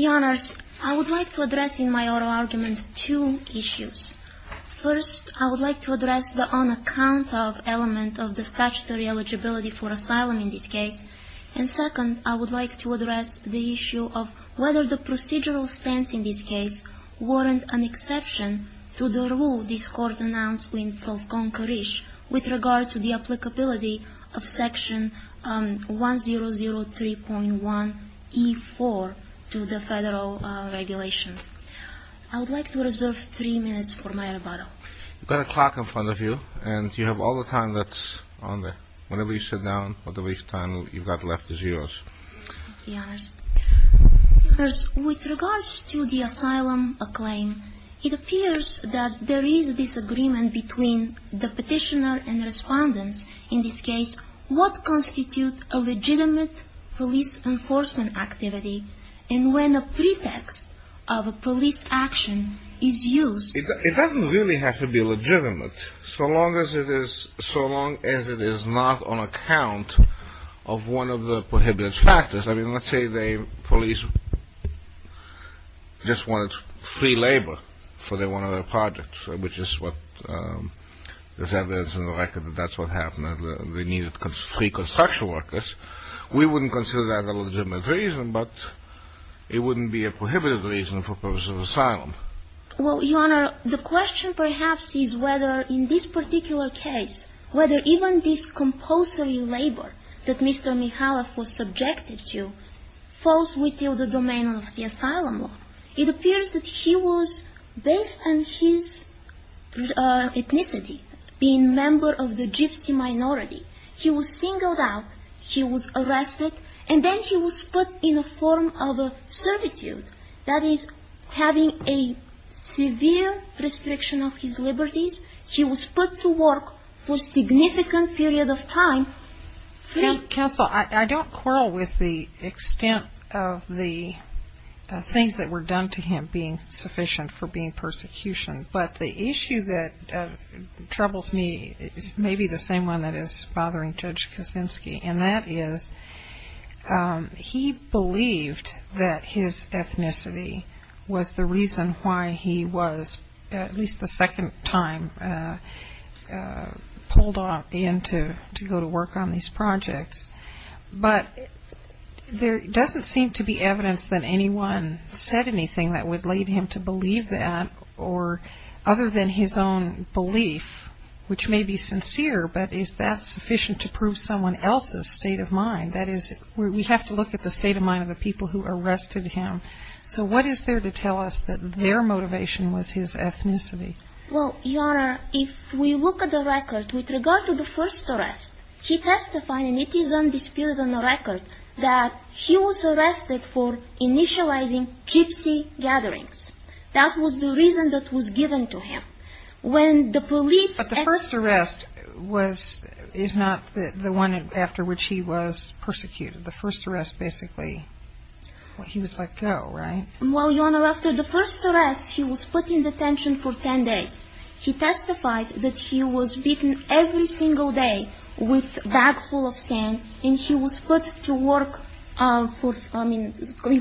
Your Honor, I would like to address in my oral argument two issues. First, I would like to address the on-account of element of the statutory eligibility for asylum in this case. And second, I would like to address the issue of whether the procedural stance in this case warrants an exception to the rule this Court announced in Falkon-Karish with regard to the applicability of Section 1003.1E4 to the federal regulations. I would like to reserve three minutes for my rebuttal. Your Honor, with regards to the asylum claim, it appears that there is disagreement between the petitioner and respondents in this case. What constitutes a legitimate police enforcement activity, and when a pretext of a police action is used? It doesn't really have to be legitimate, so long as it is not on account of one of the prohibitive factors. I mean, let's say the police just wanted free labor for one of their projects, which is what there's evidence in the record that that's what happened, that they needed free construction workers. We wouldn't consider that a legitimate reason, but it wouldn't be a prohibitive reason for purposes of asylum. Well, Your Honor, the question perhaps is whether in this particular case, whether even this compulsory labor that Mr. Mikhailov was subjected to falls within the domain of the asylum law. It appears that he was, based on his ethnicity, being a member of the gypsy minority, he was singled out, he was arrested, and then he was put in a form of a servitude, that is, having a severe restriction of his liberties, he was put to work for a significant period of time. Counsel, I don't quarrel with the extent of the things that were done to him being sufficient for being persecuted, but the issue that troubles me is maybe the same one that is bothering Judge Kaczynski, and that is, he believed that his ethnicity was the reason why he was, at least the second time, pulled in to go to work on these projects. But there doesn't seem to be evidence that anyone said anything that would lead him to believe that, other than his own belief, which may be sincere, but is that sufficient to prove someone else's state of mind? That is, we have to look at the state of mind of the people who arrested him. So what is there to tell us that their motivation was his ethnicity? Well, Your Honor, if we look at the record, with regard to the first arrest, he testified, and it is undisputed on the record, that he was arrested for initializing gypsy gatherings. That was the reason that was given to him. When the police... But the first arrest was, is not the one after which he was persecuted. The first arrest basically, he was let go, right? Well, Your Honor, after the first arrest, he was put in detention for 10 days. He testified that he was beaten every single day with a bag full of sand, and he was put to work, I mean,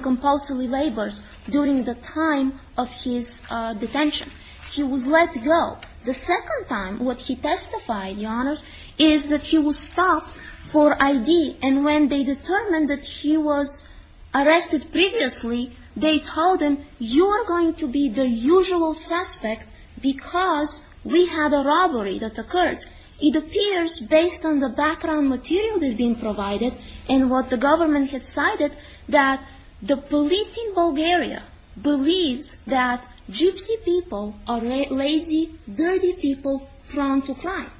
compulsory labor during the time of his detention. He was let go. The second time, what he testified, Your Honor, is that he was stopped for ID, and when they determined that he was arrested previously, they told him, you are going to be the usual suspect because we had a robbery that occurred. It appears, based on the background material that has been provided, and what the government has cited, that the police in Bulgaria believes that gypsy people are lazy, dirty people prone to crime.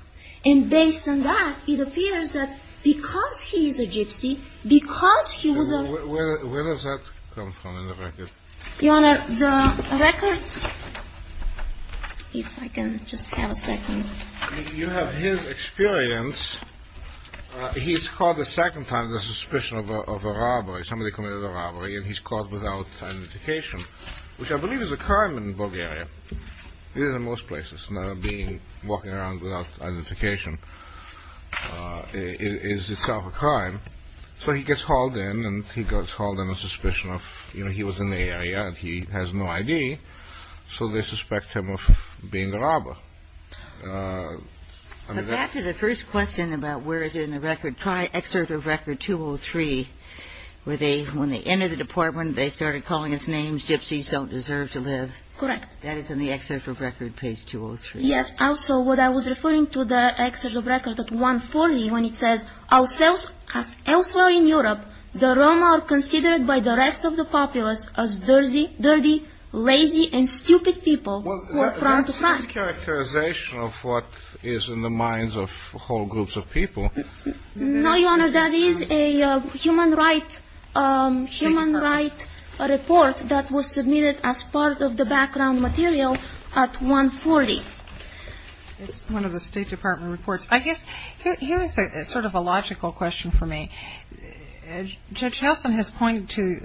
And based on that, it appears that because he is a gypsy, because he was a... Where does that come from in the record? Your Honor, the record, if I can just have a second. You have his experience. He is caught the second time in the suspicion of a robbery. Somebody committed a robbery, and he is caught without identification, which I believe is a crime in Bulgaria. It is in most places. Walking around without identification is itself a crime. So he gets hauled in, and he gets hauled in with suspicion of, you know, he was in the area, and he has no ID, so they suspect him of being a robber. But back to the first question about where is it in the record. Try excerpt of record 203, where they, when they entered the department, they started calling us names, gypsies don't deserve to live. Correct. That is in the excerpt of record, page 203. Yes. Also, what I was referring to the excerpt of record 140, when it says, elsewhere in the report, it says, we are not as populous as dirty, lazy, and stupid people who are prone to crime. Well, that's a mischaracterization of what is in the minds of whole groups of people. No, Your Honor, that is a human right report that was submitted as part of the background material at 140. It's one of the State Department reports. I guess here is sort of a logical question for me. Judge Helson has pointed to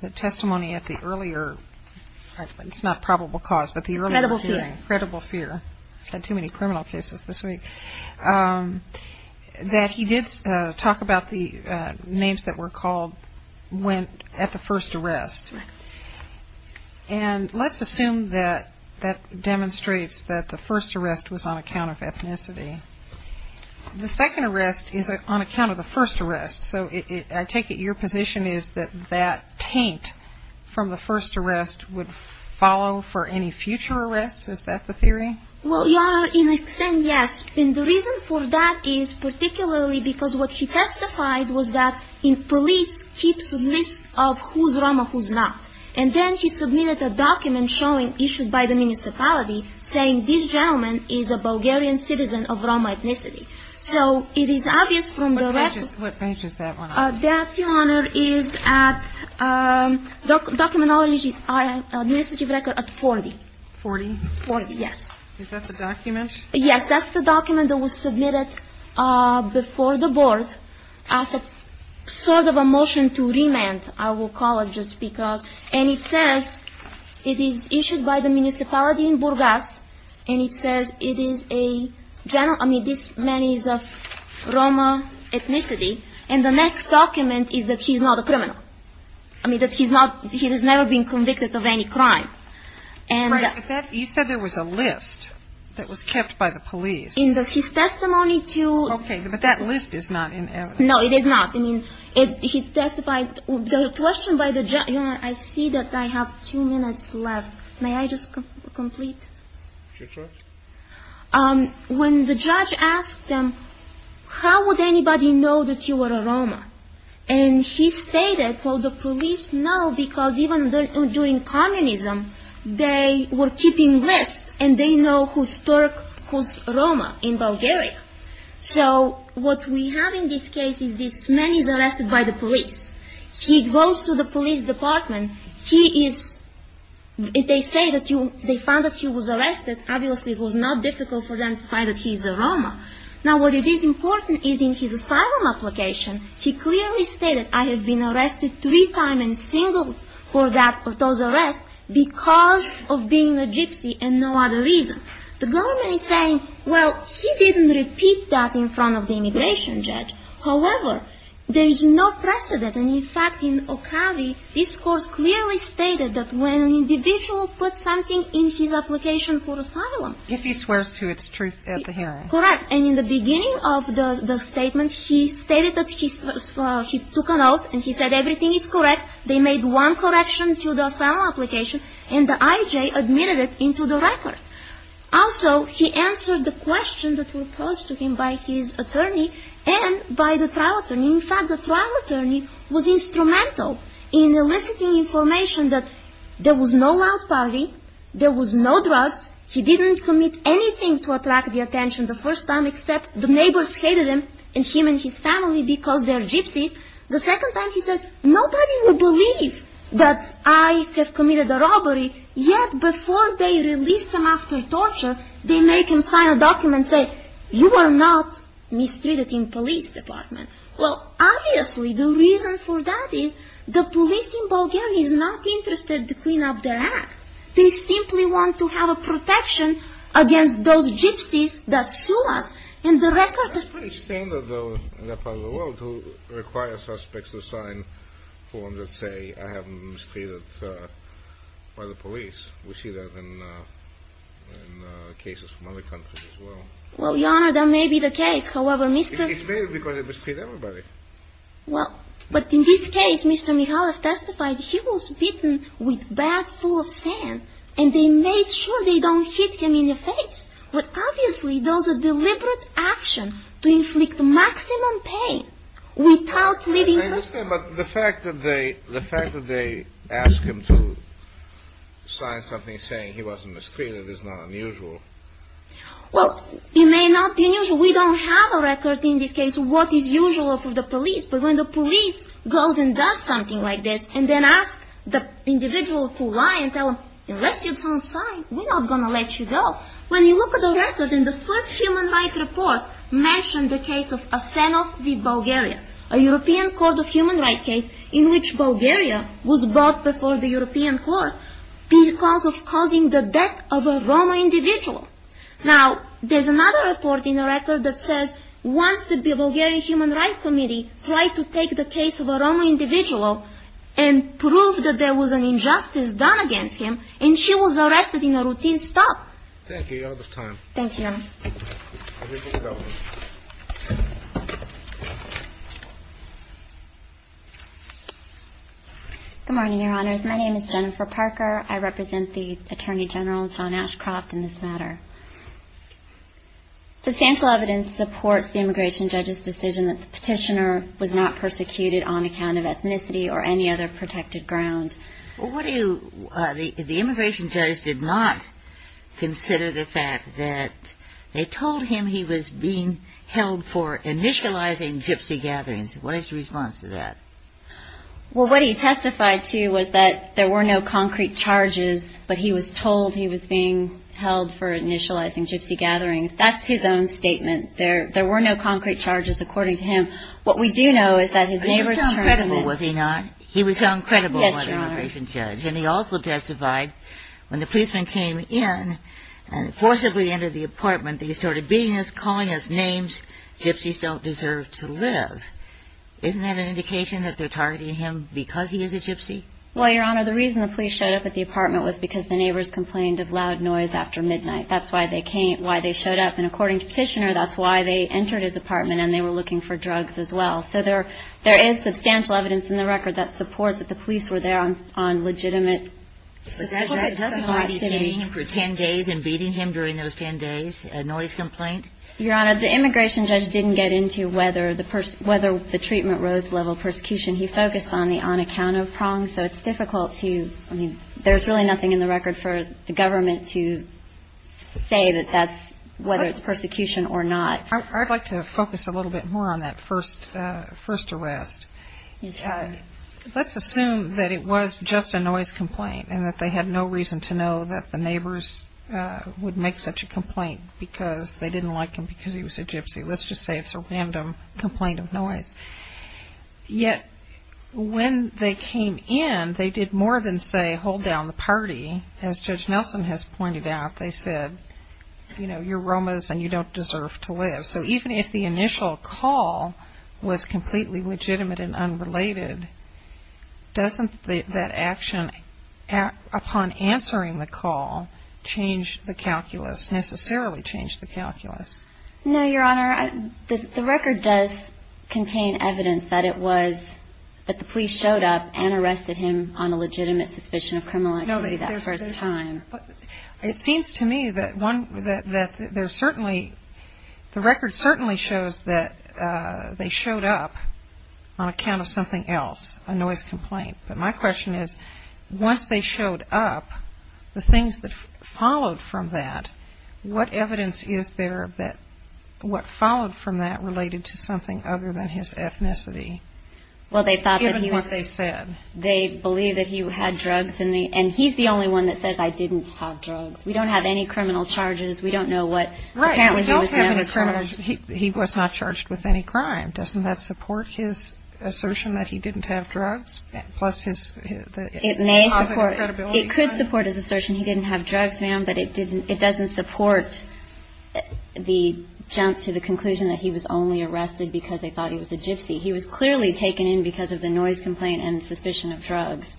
the testimony at the earlier, it's not probable cause, but the earlier hearing. Credible fear. Credible fear. Had too many criminal cases this week. That he did talk about the names that were called when, at the first arrest. Right. And let's assume that that demonstrates that the first arrest was on account of ethnicity. The second arrest is on account of the first arrest. So, I take it your position is that that taint from the first arrest would follow for any future arrests? Is that the theory? Well, Your Honor, in a sense, yes. And the reason for that is particularly because what he testified was that police keeps a list of who's Roma, who's not. And then he submitted a document showing, issued by the municipality, saying, this gentleman is a Bulgarian citizen of Roma ethnicity. So, it is obvious from the record. What page is that one on? That, Your Honor, is at Documentology's administrative record at 40. Forty? Forty, yes. Is that the document? Yes, that's the document that was submitted before the board as a sort of a motion to remand, I will I mean, this man is of Roma ethnicity. And the next document is that he's not a criminal. I mean, that he's not, he has never been convicted of any crime. Right. But that, you said there was a list that was kept by the police. In his testimony to Okay. But that list is not in evidence. No, it is not. I mean, he's testified, the question by the, Your Honor, I see that I have two minutes left. May I just complete? Sure. When the judge asked him, how would anybody know that you were a Roma? And he stated, well, the police know because even during communism, they were keeping lists and they know who's Turk, who's Roma in Bulgaria. So, what we have in this case is this man is arrested by the police. He goes to the police department. He is, they say that they found that he was arrested. Obviously, it was not difficult for them to find that he's a Roma. Now, what is important is in his asylum application, he clearly stated, I have been arrested three times and single for that, for those arrests because of being a gypsy and no other reason. The government is saying, well, he didn't repeat that in front of the immigration judge. However, there is no precedent. And in fact, in Okavi, this court clearly stated that when an individual puts something in his application for asylum. If he swears to its truth at the hearing. Correct. And in the beginning of the statement, he stated that he took a note and he said everything is correct. They made one correction to the asylum application and the IJ admitted it into the record. Also, he answered the questions that were posed to him by his attorney and by the trial attorney. In fact, the trial attorney was instrumental in eliciting information that there was no loud party. There was no drugs. He didn't commit anything to attract the attention the first time, except the neighbors hated him and him and his family because they're gypsies. The second time he said, nobody would believe that I have committed a robbery. Yet before they released him after torture, they make him sign a document saying, you are not mistreated in police department. Well, obviously, the reason for that is the police in Bulgaria is not interested to clean up their act. They simply want to have a protection against those gypsies that sue us. That's pretty standard in that part of the world to require suspects to sign forms that say I have been mistreated by the police. We see that in cases from other countries as well. Well, Your Honor, that may be the case. However, Mr. It's because they mistreat everybody. Well, but in this case, Mr. Mikhailov testified he was beaten with a bag full of sand and they made sure they don't hit him in the face. But obviously, those are deliberate action to inflict the maximum pain without leaving. But the fact that they the fact that they ask him to sign something saying he wasn't mistreated is not unusual. Well, it may not be unusual. We don't have a record in this case. What is usual for the police? But when the police goes and does something like this and then ask the individual to lie and tell him, unless you don't sign, we're not going to let you go. When you look at the record in the first human rights report mentioned the case of Asenov v. Bulgaria, a European Court of Human Rights case in which Bulgaria was brought before the European Court because of causing the death of a Roma individual. Now, there's another report in the record that says once the Bulgarian Human Rights Committee tried to take the case of a Roma individual and prove that there was an injustice done against him and he was arrested in a routine stop. Thank you. You're out of time. Thank you, Your Honor. Good morning, Your Honors. My name is Jennifer Parker. I represent the Attorney General, John Ashcroft, in this matter. Substantial evidence supports the immigration judge's decision that the petitioner was not persecuted on account of ethnicity or any other protected ground. The immigration judge did not consider the fact that they told him he was being held for initializing gypsy gatherings. What is your response to that? Well, what he testified to was that there were no concrete charges, but he was told he was being held for initializing gypsy gatherings. That's his own statement. There were no concrete charges according to him. What we do know is that his neighbors turned him in. But he was so uncredible, was he not? He was so uncredible, was the immigration judge. Yes, Your Honor. And he also testified when the policeman came in and forcibly entered the apartment that he started beating us, calling us names. Gypsies don't deserve to live. Isn't that an indication that they're targeting him because he is a gypsy? Well, Your Honor, the reason the police showed up at the apartment was because the neighbors complained of loud noise after midnight. That's why they came, why they showed up. And according to the petitioner, that's why they entered his apartment and they were looking for drugs as well. So there is substantial evidence in the record that supports that the police were there on legitimate. But does that justify detaining him for 10 days and beating him during those 10 days, a noise complaint? Your Honor, the immigration judge didn't get into whether the treatment rose to the level of persecution. He focused on the on account of prong, so it's difficult to, I mean, there's really nothing in the record for the government to say that that's whether it's persecution or not. I'd like to focus a little bit more on that first arrest. Let's assume that it was just a noise complaint and that they had no reason to know that the neighbors would make such a complaint because they didn't like him because he was a gypsy. Let's just say it's a random complaint of noise. Yet when they came in, they did more than say hold down the party. As Judge Nelson has pointed out, they said, you know, you're Romas and you don't deserve to live. So even if the initial call was completely legitimate and unrelated, doesn't that action upon answering the call change the calculus, necessarily change the calculus? No, Your Honor. The record does contain evidence that it was that the police showed up and arrested him on a legitimate suspicion of criminal activity that first time. It seems to me that the record certainly shows that they showed up on account of something else, a noise complaint. But my question is, once they showed up, the things that followed from that, what evidence is there of what followed from that related to something other than his ethnicity? Even what they said. They believe that he had drugs and he's the only one that says I didn't have drugs. We don't have any criminal charges. We don't know what apparently he was charged with. He was not charged with any crime. Doesn't that support his assertion that he didn't have drugs? It may support. It could support his assertion he didn't have drugs, ma'am, but it doesn't support the jump to the conclusion that he was only arrested because they thought he was a gypsy. He was clearly taken in because of the noise complaint and the suspicion of drugs.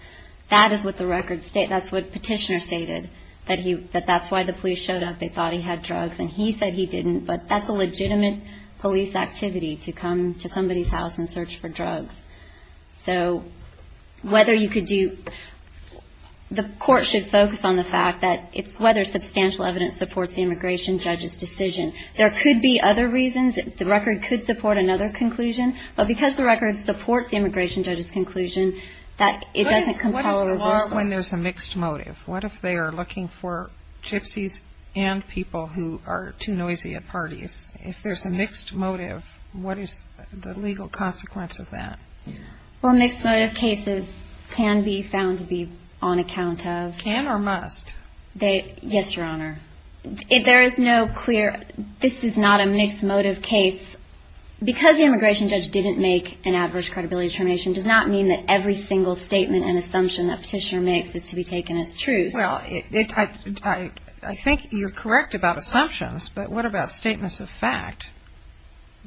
That is what the record states. That's what Petitioner stated, that that's why the police showed up. They thought he had drugs and he said he didn't, but that's a legitimate police activity to come to somebody's house and search for drugs. So whether you could do the court should focus on the fact that it's whether substantial evidence supports the immigration judge's decision. There could be other reasons. The record could support another conclusion, but because the record supports the immigration judge's conclusion that it doesn't compel a reversal. What is the law when there's a mixed motive? What if they are looking for gypsies and people who are too noisy at parties? If there's a mixed motive, what is the legal consequence of that? Well, mixed motive cases can be found to be on account of. Can or must? Yes, Your Honor. There is no clear. This is not a mixed motive case. Because the immigration judge didn't make an adverse credibility determination does not mean that every single statement and assumption that Petitioner makes is to be taken as truth. Well, I think you're correct about assumptions, but what about statements of fact?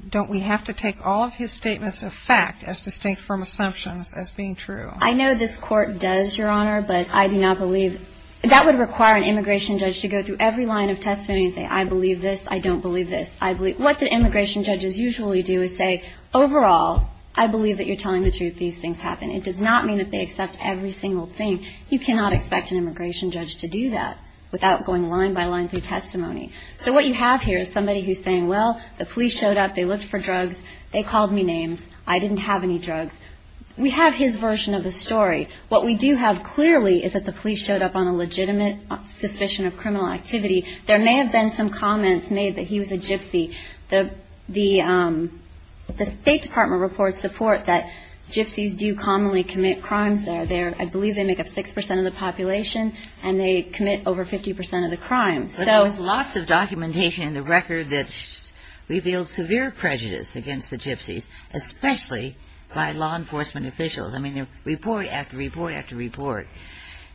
Don't we have to take all of his statements of fact as distinct from assumptions as being true? I know this court does, Your Honor, but I do not believe. That would require an immigration judge to go through every line of testimony and say, I believe this, I don't believe this. What the immigration judges usually do is say, overall, I believe that you're telling the truth, these things happen. It does not mean that they accept every single thing. You cannot expect an immigration judge to do that without going line by line through testimony. So what you have here is somebody who's saying, well, the police showed up, they looked for drugs, they called me names, I didn't have any drugs. We have his version of the story. What we do have clearly is that the police showed up on a legitimate suspicion of criminal activity. There may have been some comments made that he was a gypsy. The State Department reports support that gypsies do commonly commit crimes there. I believe they make up 6% of the population, and they commit over 50% of the crime. But there was lots of documentation in the record that revealed severe prejudice against the gypsies, especially by law enforcement officials. I mean, they report after report after report.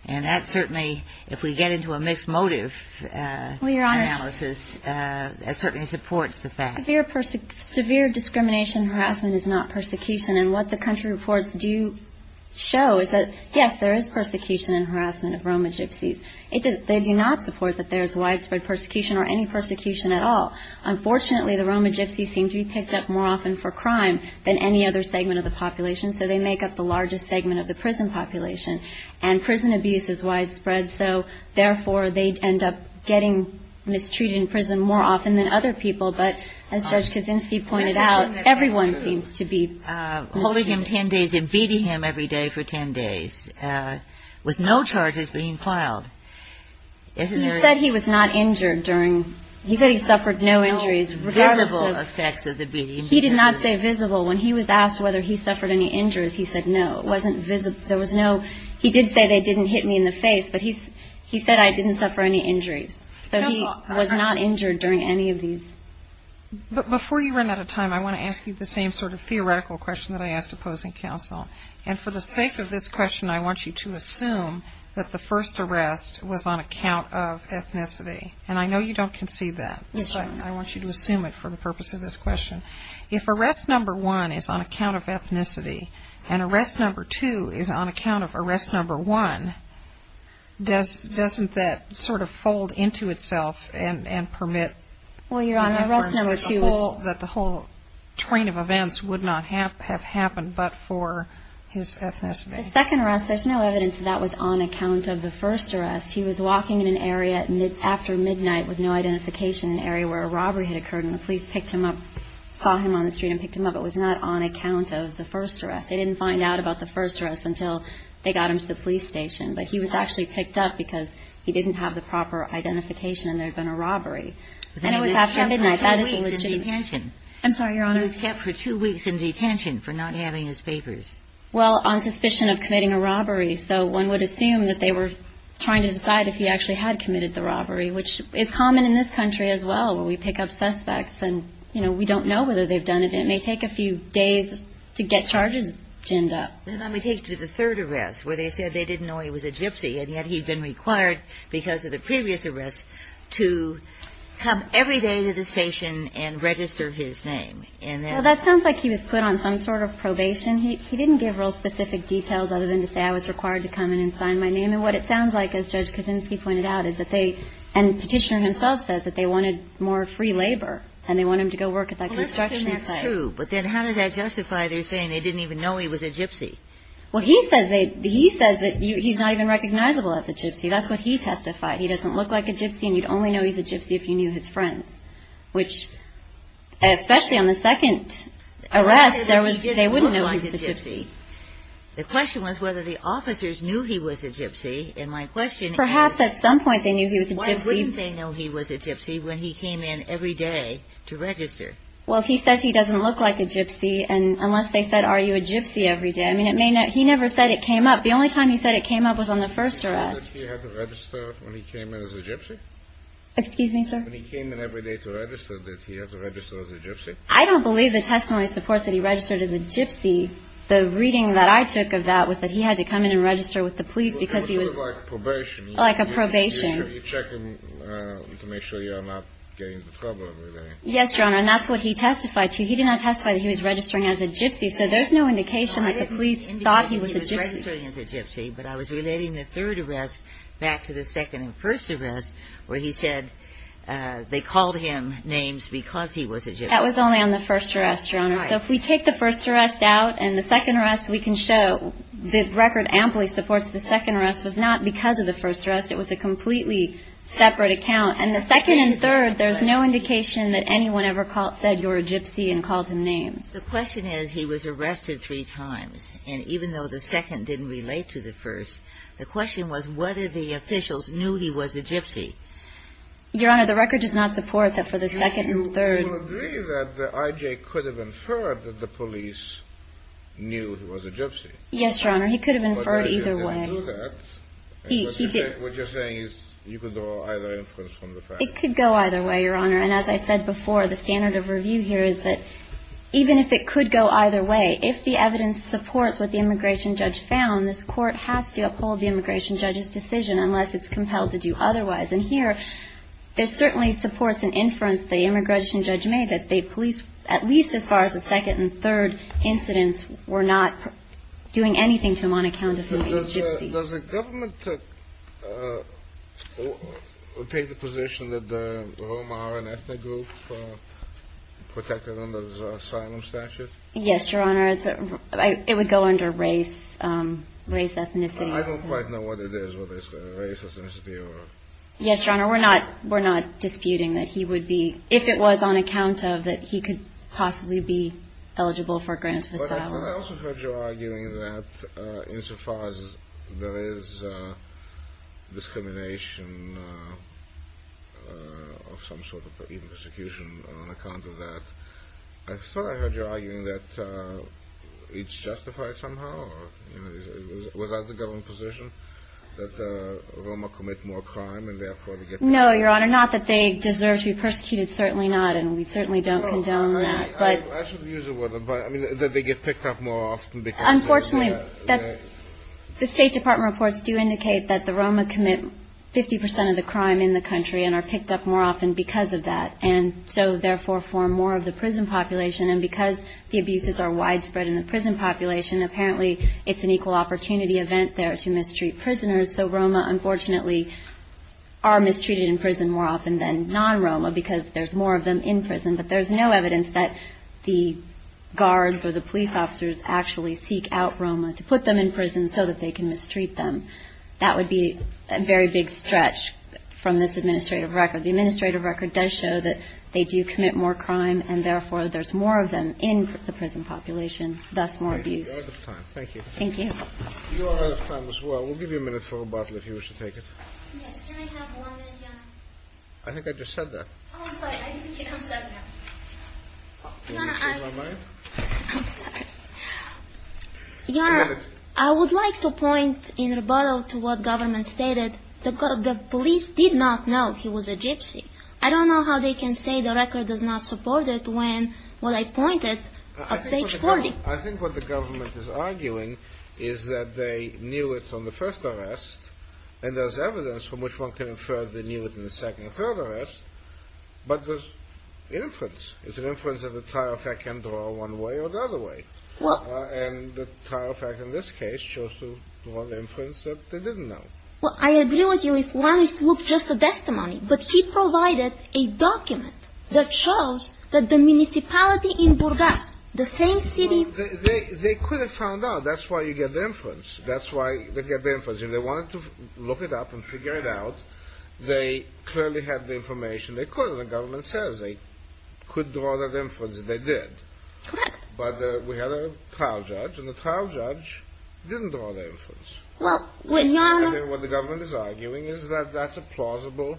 And that certainly, if we get into a mixed motive analysis, that certainly supports the fact. Severe discrimination and harassment is not persecution. And what the country reports do show is that, yes, there is persecution and harassment of Roma gypsies. They do not support that there is widespread persecution or any persecution at all. Unfortunately, the Roma gypsies seem to be picked up more often for crime than any other segment of the population, so they make up the largest segment of the prison population. And prison abuse is widespread, so therefore they end up getting mistreated in prison more often than other people. But as Judge Kaczynski pointed out, everyone seems to be mistreated. Holding him 10 days and beating him every day for 10 days with no charges being filed. He said he was not injured during – he said he suffered no injuries. No visible effects of the beating. He did not say visible. When he was asked whether he suffered any injuries, he said no. It wasn't visible. There was no – he did say they didn't hit me in the face, but he said I didn't suffer any injuries. So he was not injured during any of these. But before you run out of time, I want to ask you the same sort of theoretical question that I asked opposing counsel. And for the sake of this question, I want you to assume that the first arrest was on account of ethnicity. And I know you don't concede that. Yes, I want you to assume it for the purpose of this question. If arrest number one is on account of ethnicity and arrest number two is on account of arrest number one, doesn't that sort of fold into itself and permit – Well, Your Honor, arrest number two is – That the whole train of events would not have happened but for his ethnicity. The second arrest, there's no evidence that that was on account of the first arrest. He was walking in an area after midnight with no identification in an area where a robbery had occurred and the police picked him up, saw him on the street and picked him up. It was not on account of the first arrest. They didn't find out about the first arrest until they got him to the police station. But he was actually picked up because he didn't have the proper identification and there had been a robbery. And it was after midnight. That is legitimate. He was kept for two weeks in detention. I'm sorry, Your Honor. He was kept for two weeks in detention for not having his papers. Well, on suspicion of committing a robbery. So one would assume that they were trying to decide if he actually had committed the robbery, which is common in this country as well where we pick up suspects and, you know, we don't know whether they've done it. It may take a few days to get charges jimmed up. Let me take you to the third arrest where they said they didn't know he was a gypsy and yet he'd been required because of the previous arrests to come every day to the station and register his name. He didn't give real specific details other than to say I was required to come in and sign my name. And what it sounds like, as Judge Kosinski pointed out, is that they and the petitioner himself says that they wanted more free labor and they want him to go work at that construction site. Well, let's assume that's true. But then how does that justify their saying they didn't even know he was a gypsy? Well, he says that he's not even recognizable as a gypsy. That's what he testified. He doesn't look like a gypsy and you'd only know he's a gypsy if you knew his friends, which, especially on the second arrest, they wouldn't know he was a gypsy. The question was whether the officers knew he was a gypsy and my question is Perhaps at some point they knew he was a gypsy. Why wouldn't they know he was a gypsy when he came in every day to register? Well, he says he doesn't look like a gypsy unless they said are you a gypsy every day. I mean, he never said it came up. The only time he said it came up was on the first arrest. Did he say that he had to register when he came in as a gypsy? Excuse me, sir? When he came in every day to register, did he have to register as a gypsy? I don't believe the testimony supports that he registered as a gypsy. The reading that I took of that was that he had to come in and register with the police because he was It was sort of like probation. Like a probation. You check him to make sure you're not getting into trouble every day. Yes, Your Honor, and that's what he testified to. He did not testify that he was registering as a gypsy, so there's no indication that the police thought he was a gypsy. I didn't indicate he was registering as a gypsy, but I was relating the third arrest back to the second and first arrest where he said they called him names because he was a gypsy. That was only on the first arrest, Your Honor. So if we take the first arrest out and the second arrest, we can show the record amply supports the second arrest was not because of the first arrest. It was a completely separate account, and the second and third, there's no indication that anyone ever said you're a gypsy and called him names. The question is he was arrested three times, and even though the second didn't relate to the first, the question was whether the officials knew he was a gypsy. Your Honor, the record does not support that for the second and third. You will agree that I.J. could have inferred that the police knew he was a gypsy. Yes, Your Honor, he could have inferred either way. But I.J. didn't do that. He did. What you're saying is you could draw either inference from the fact. It could go either way, Your Honor, and as I said before, the standard of review here is that even if it could go either way, if the evidence supports what the immigration judge found, this court has to uphold the immigration judge's decision unless it's compelled to do otherwise. And here, there certainly supports an inference the immigration judge made that the police, at least as far as the second and third incidents, were not doing anything to him on account of him being a gypsy. Does the government take the position that Romar, an ethnic group, protected under the asylum statute? Yes, Your Honor. It would go under race, race, ethnicity. I don't quite know what it is, whether it's race, ethnicity or... Yes, Your Honor, we're not disputing that he would be, if it was on account of that he could possibly be eligible for grant of asylum. But I also heard you arguing that insofar as there is discrimination of some sort of persecution on account of that. I thought I heard you arguing that it's justified somehow, or was that the government position, that Romar commit more crime and therefore... No, Your Honor, not that they deserve to be persecuted, certainly not, and we certainly don't condone that, but... I should use the word... I mean, that they get picked up more often because... Unfortunately, the State Department reports do indicate that the Romar commit 50 percent of the crime in the country and are picked up more often because of that. And so, therefore, form more of the prison population, and because the abuses are widespread in the prison population, apparently it's an equal opportunity event there to mistreat prisoners. So Romar, unfortunately, are mistreated in prison more often than non-Romar, because there's more of them in prison. But there's no evidence that the guards or the police officers actually seek out Romar to put them in prison so that they can mistreat them. That would be a very big stretch from this administrative record. The administrative record does show that they do commit more crime, and therefore there's more of them in the prison population, thus more abuse. You're out of time. Thank you. Thank you. You are out of time as well. We'll give you a minute for rebuttal if you wish to take it. Yes. Can I have one minute, Your Honor? I think I just said that. Oh, I'm sorry. I didn't think you'd come second. Your Honor, I would like to point in rebuttal to what government stated. The police did not know he was a gypsy. I don't know how they can say the record does not support it when I pointed at page 40. I think what the government is arguing is that they knew it from the first arrest, and there's evidence from which one can infer they knew it in the second or third arrest. But there's inference. It's an inference that the Trial Fact can draw one way or the other way. And the Trial Fact in this case chose to draw the inference that they didn't know. Well, I agree with you if one is to look just at the testimony. But he provided a document that shows that the municipality in Burgas, the same city. They could have found out. That's why you get the inference. That's why they get the inference. If they wanted to look it up and figure it out, they clearly had the information. They could have. The government says they could draw that inference, and they did. Correct. But we had a trial judge, and the trial judge didn't draw the inference. What the government is arguing is that that's a plausible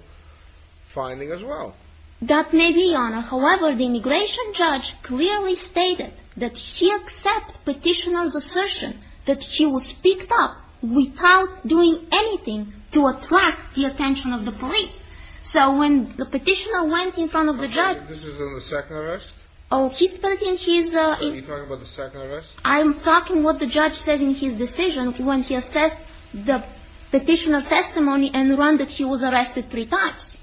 finding as well. That may be, Your Honor. However, the immigration judge clearly stated that he accepts Petitioner's assertion that he was picked up without doing anything to attract the attention of the police. So when the Petitioner went in front of the judge… Okay, this is in the second arrest? Oh, he spent in his… Are you talking about the second arrest? I'm talking what the judge says in his decision when he assessed the Petitioner testimony and learned that he was arrested three times.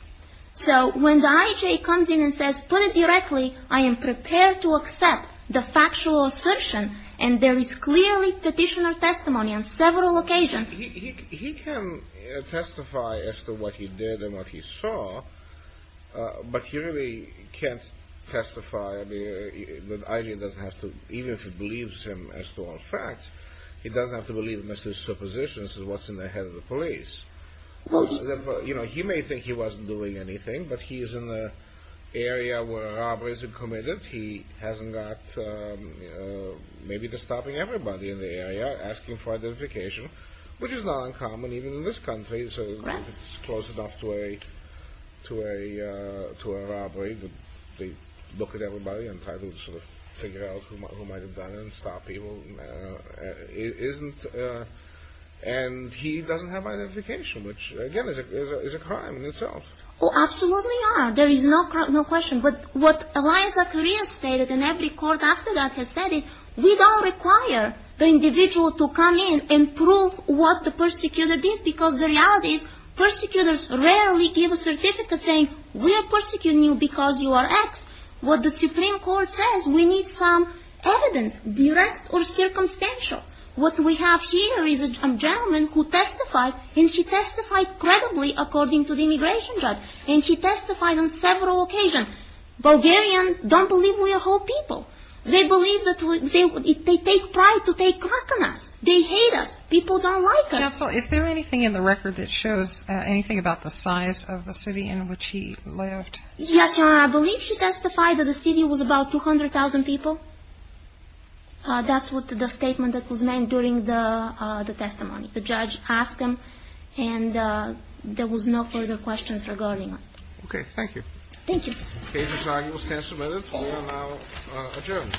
So when the IJ comes in and says, put it directly, I am prepared to accept the factual assertion, and there is clearly Petitioner testimony on several occasions. He can testify as to what he did and what he saw, but he really can't testify. The IJ doesn't have to, even if it believes him as to all facts, it doesn't have to believe him as to his suppositions as to what's in the head of the police. You know, he may think he wasn't doing anything, but he is in the area where robberies are committed. He hasn't got maybe to stop everybody in the area asking for identification, which is not uncommon even in this country. Right. It's close enough to a robbery that they look at everybody and try to sort of figure out who might have done it and stop people. It isn't… And he doesn't have identification, which, again, is a crime in itself. Oh, absolutely not. There is no question. But what Eliza Correa stated, and every court after that has said, is we don't require the individual to come in and prove what the Persecutor did because the reality is Persecutors rarely give a certificate saying, we are persecuting you because you are X. What the Supreme Court says, we need some evidence, direct or circumstantial. What we have here is a gentleman who testified, and he testified credibly according to the immigration judge, and he testified on several occasions. Bulgarians don't believe we are whole people. They believe that they take pride to take crack on us. They hate us. People don't like us. Counsel, is there anything in the record that shows anything about the size of the city in which he lived? Yes, Your Honor. I believe he testified that the city was about 200,000 people. That's what the statement that was made during the testimony. The judge asked him, and there was no further questions regarding it. Okay. Thank you. Thank you. The case is now in the stand submitted. We are now adjourned.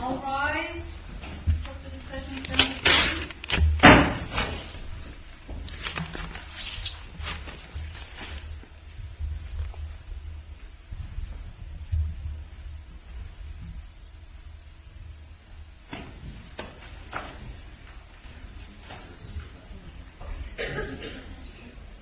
All rise. Court is adjourned.